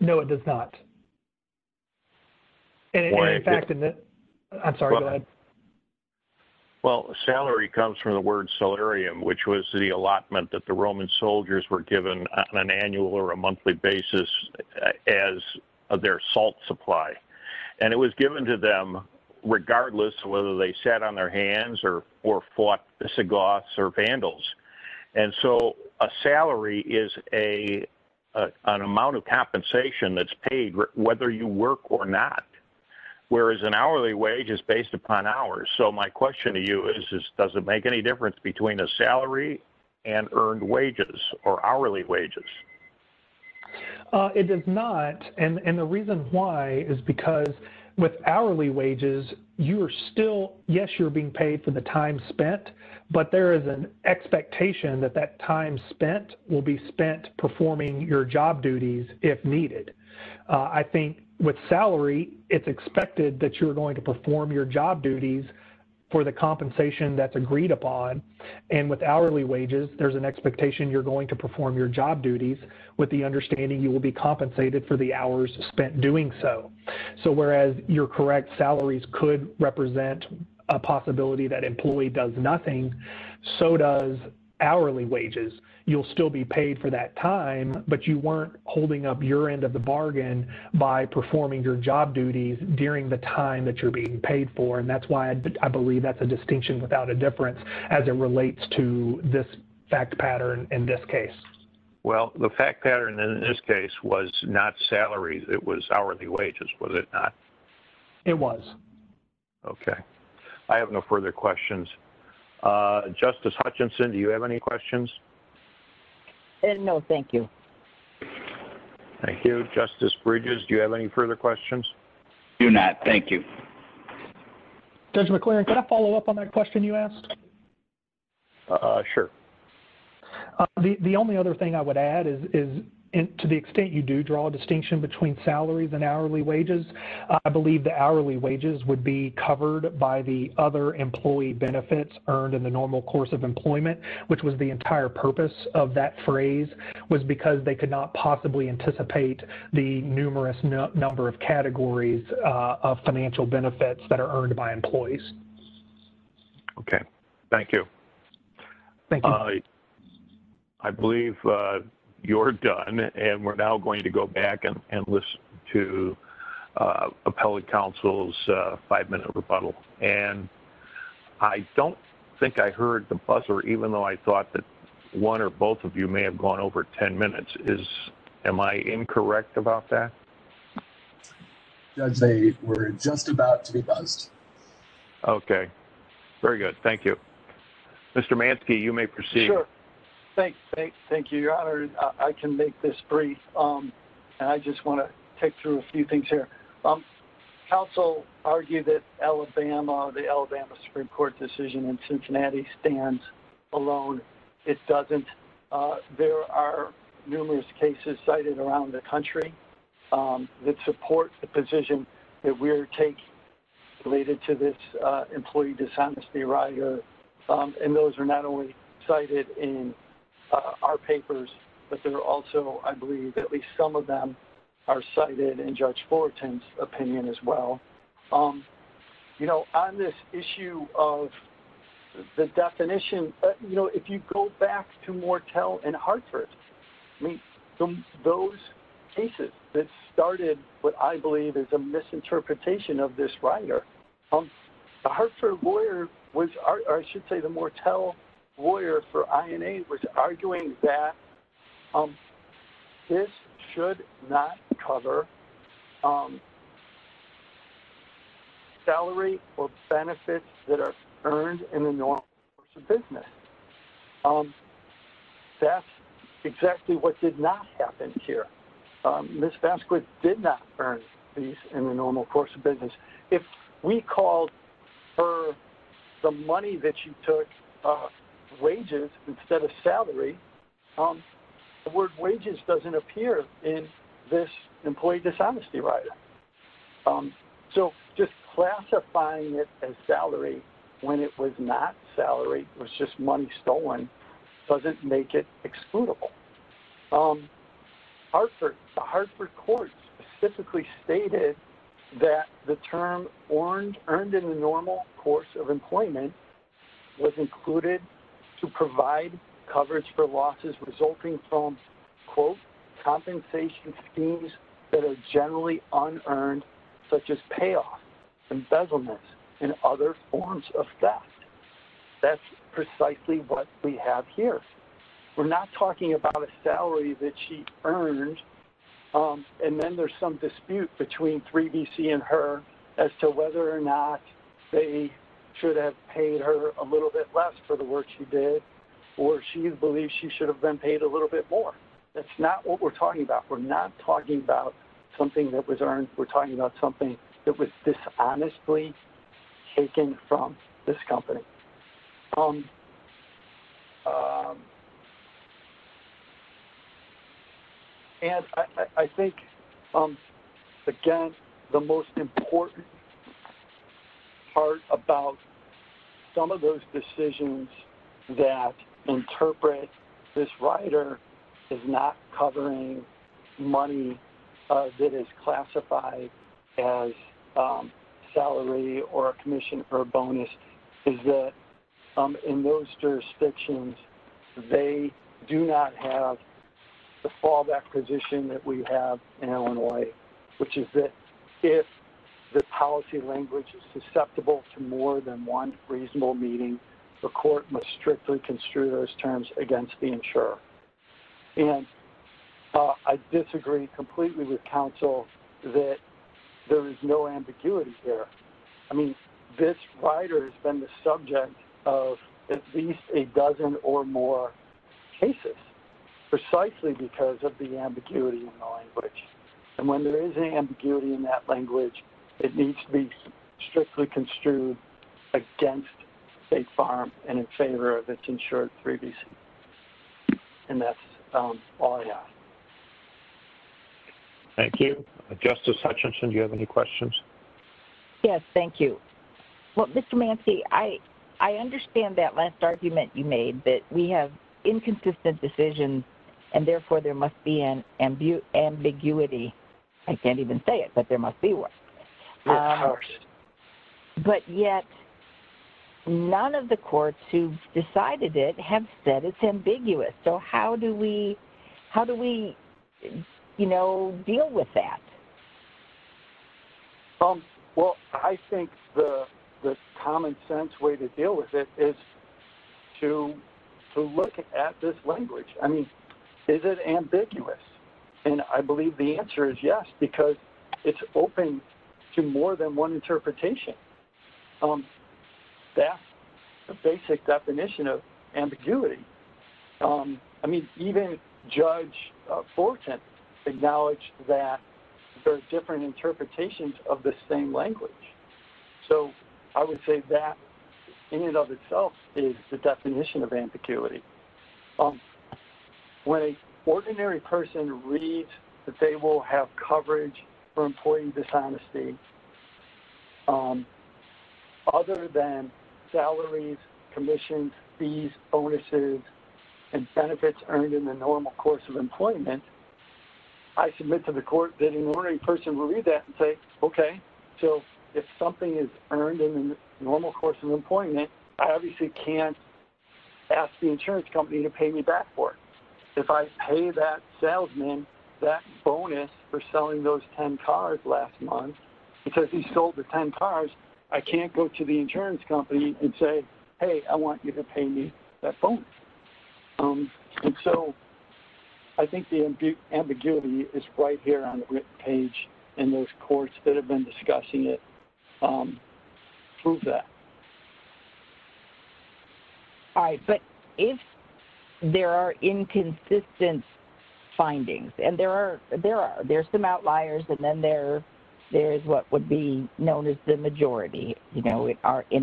No, it does not. Well, salary comes from the word salarium, which was the allotment that the Roman soldiers were given on an annual or a monthly basis as their salt supply. And it was given to them regardless of whether they sat on their hands or fought sagoths or vandals. And so a salary is an amount of compensation that's paid whether you work or not. Whereas an hourly wage is based upon hours. So my question to you is, does it make any difference between a salary and earned wages or hourly wages? It does not. And the reason why is because with hourly wages, you are still, yes, you're being paid for the time spent. But there is an expectation that that time spent will be spent performing your job duties if needed. I think with salary, it's expected that you're going to perform your job duties for the compensation that's agreed upon. And with hourly wages, there's an expectation you're going to perform your job duties with the understanding you will be compensated for the hours spent doing so. So whereas your correct salaries could represent a possibility that employee does nothing, so does hourly wages. You'll still be paid for that time, but you weren't holding up your end of the bargain by performing your job duties during the time that you're being paid for. And that's why I believe that's a distinction without a difference as it relates to this fact pattern in this case. Well, the fact pattern in this case was not salaries. It was hourly wages, was it not? It was. Okay. I have no further questions. Justice Hutchinson, do you have any questions? No, thank you. Thank you. Justice Bridges, do you have any further questions? Do not. Thank you. Judge McLaren, can I follow up on that question you asked? Sure. The only other thing I would add is to the extent you do draw a distinction between salaries and hourly wages, I believe the hourly wages would be covered by the other employee benefits earned in the normal course of employment, which was the entire purpose of that phrase was because they could not possibly anticipate the numerous number of categories of financial benefits that are earned by employees. Okay. Thank you. Thank you. I believe you're done, and we're now going to go back and listen to appellate counsel's five-minute rebuttal. And I don't think I heard the buzzer, even though I thought that one or both of you may have gone over ten minutes. Am I incorrect about that? Judge, they were just about to be buzzed. Okay. Very good. Thank you. Mr. Manske, you may proceed. Sure. Thank you, Your Honor. I can make this brief, and I just want to take through a few things here. Counsel argued that the Alabama Supreme Court decision in Cincinnati stands alone. It doesn't. There are numerous cases cited around the country that support the position that we're taking related to this employee dishonesty rider. And those are not only cited in our papers, but they're also, I believe, at least some of them are cited in Judge Fullerton's opinion as well. You know, on this issue of the definition, you know, if you go back to Mortell and Hartford, I mean, those cases that started what I believe is a misinterpretation of this rider, The Hartford lawyer, or I should say the Mortell lawyer for INA, was arguing that this should not cover salary or benefits that are earned in the normal course of business. That's exactly what did not happen here. Ms. Vasquez did not earn fees in the normal course of business. If we called her the money that she took, wages instead of salary, the word wages doesn't appear in this employee dishonesty rider. So just classifying it as salary when it was not salary, it was just money stolen, doesn't make it excludable. The Hartford court specifically stated that the term earned in the normal course of employment was included to provide coverage for losses resulting from, quote, compensation schemes that are generally unearned, such as payoffs, embezzlements, and other forms of theft. That's precisely what we have here. We're not talking about a salary that she earned, and then there's some dispute between 3BC and her as to whether or not they should have paid her a little bit less for the work she did, or she believes she should have been paid a little bit more. That's not what we're talking about. We're not talking about something that was earned. We're talking about something that was dishonestly taken from this company. And I think, again, the most important part about some of those decisions that interpret this rider is not covering money that is classified as salary or a commission or a bonus, is that in those jurisdictions, they do not have the fallback position that we have in Illinois, which is that if the policy language is susceptible to more than one reasonable meeting, the court must strictly construe those terms against the insurer. And I disagree completely with counsel that there is no ambiguity here. I mean, this rider has been the subject of at least a dozen or more cases precisely because of the ambiguity in the language. And when there is an ambiguity in that language, it needs to be strictly construed against a firm and in favor of its insured 3BC. And that's all I have. Thank you. Justice Hutchinson, do you have any questions? Yes, thank you. Well, Mr. Manske, I understand that last argument you made that we have inconsistent decisions, and therefore there must be an ambiguity. I can't even say it, but there must be one. But yet none of the courts who've decided it have said it's ambiguous. So how do we, you know, deal with that? Well, I think the common sense way to deal with it is to look at this language. I mean, is it ambiguous? And I believe the answer is yes because it's open to more than one interpretation. That's the basic definition of ambiguity. I mean, even Judge Forten acknowledged that there are different interpretations of the same language. So I would say that in and of itself is the definition of ambiguity. When an ordinary person reads that they will have coverage for employing dishonesty, other than salaries, commissions, fees, bonuses, and benefits earned in the normal course of employment, I submit to the court that an ordinary person will read that and say, okay, so if something is earned in the normal course of employment, I obviously can't ask the insurance company to pay me back for it. If I pay that salesman that bonus for selling those 10 cars last month because he sold the 10 cars, I can't go to the insurance company and say, hey, I want you to pay me that bonus. And so I think the ambiguity is right here on the written page, and those courts that have been discussing it prove that. All right, but if there are inconsistent findings, and there are some outliers, and then there is what would be known as the majority in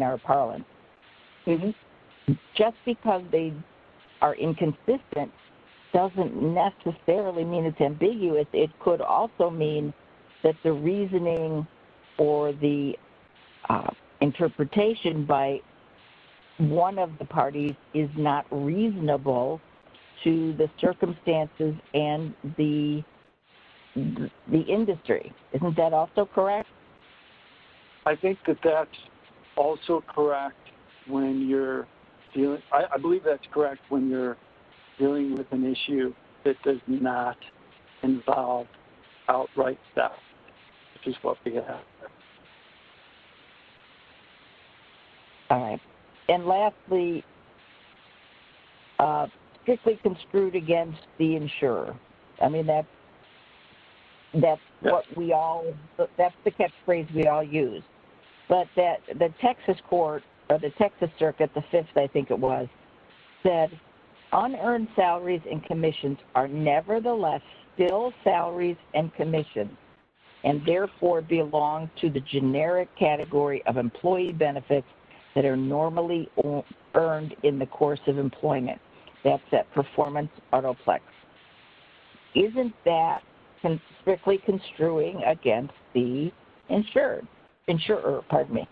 our parlance, just because they are inconsistent doesn't necessarily mean it's ambiguous. It could also mean that the reasoning or the interpretation by one of the parties is not reasonable to the circumstances and the industry. Isn't that also correct? I think that that's also correct when you're – I believe that's correct when you're dealing with an issue that does not involve outright theft, which is what we have. All right, and lastly, strictly construed against the insurer. I mean, that's what we all – that's the catchphrase we all use. But the Texas court, or the Texas circuit, the fifth I think it was, said, unearned salaries and commissions are nevertheless still salaries and commissions, and therefore belong to the generic category of employee benefits that are normally earned in the course of employment. That's that performance autoplex. Isn't that strictly construing against the insured – insurer, pardon me?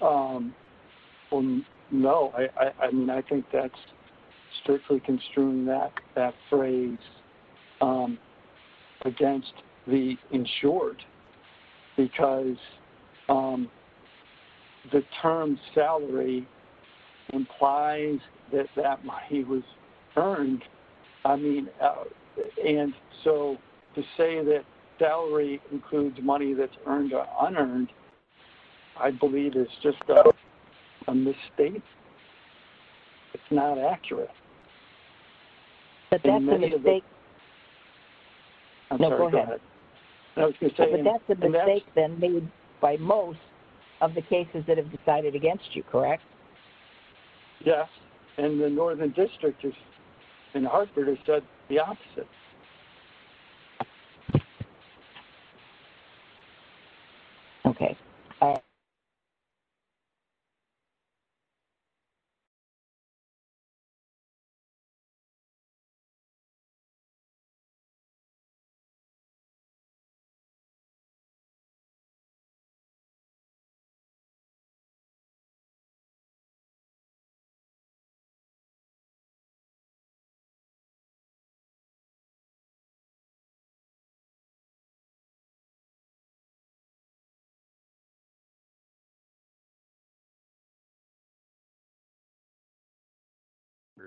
Well, no. I mean, I think that's strictly construing that phrase against the insured, because the term salary implies that that money was earned. I mean, and so to say that salary includes money that's earned or unearned I believe is just a mistake. It's not accurate. But that's a mistake. I'm sorry, go ahead. But that's a mistake then made by most of the cases that have decided against you, correct? Yes. And the northern district in Hartford has said the opposite. Okay.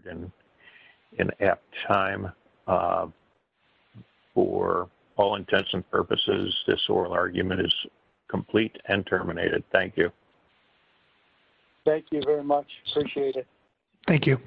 Thank you. And at time, for all intents and purposes, this oral argument is complete and terminated. Thank you. Thank you very much. Appreciate it. Thank you.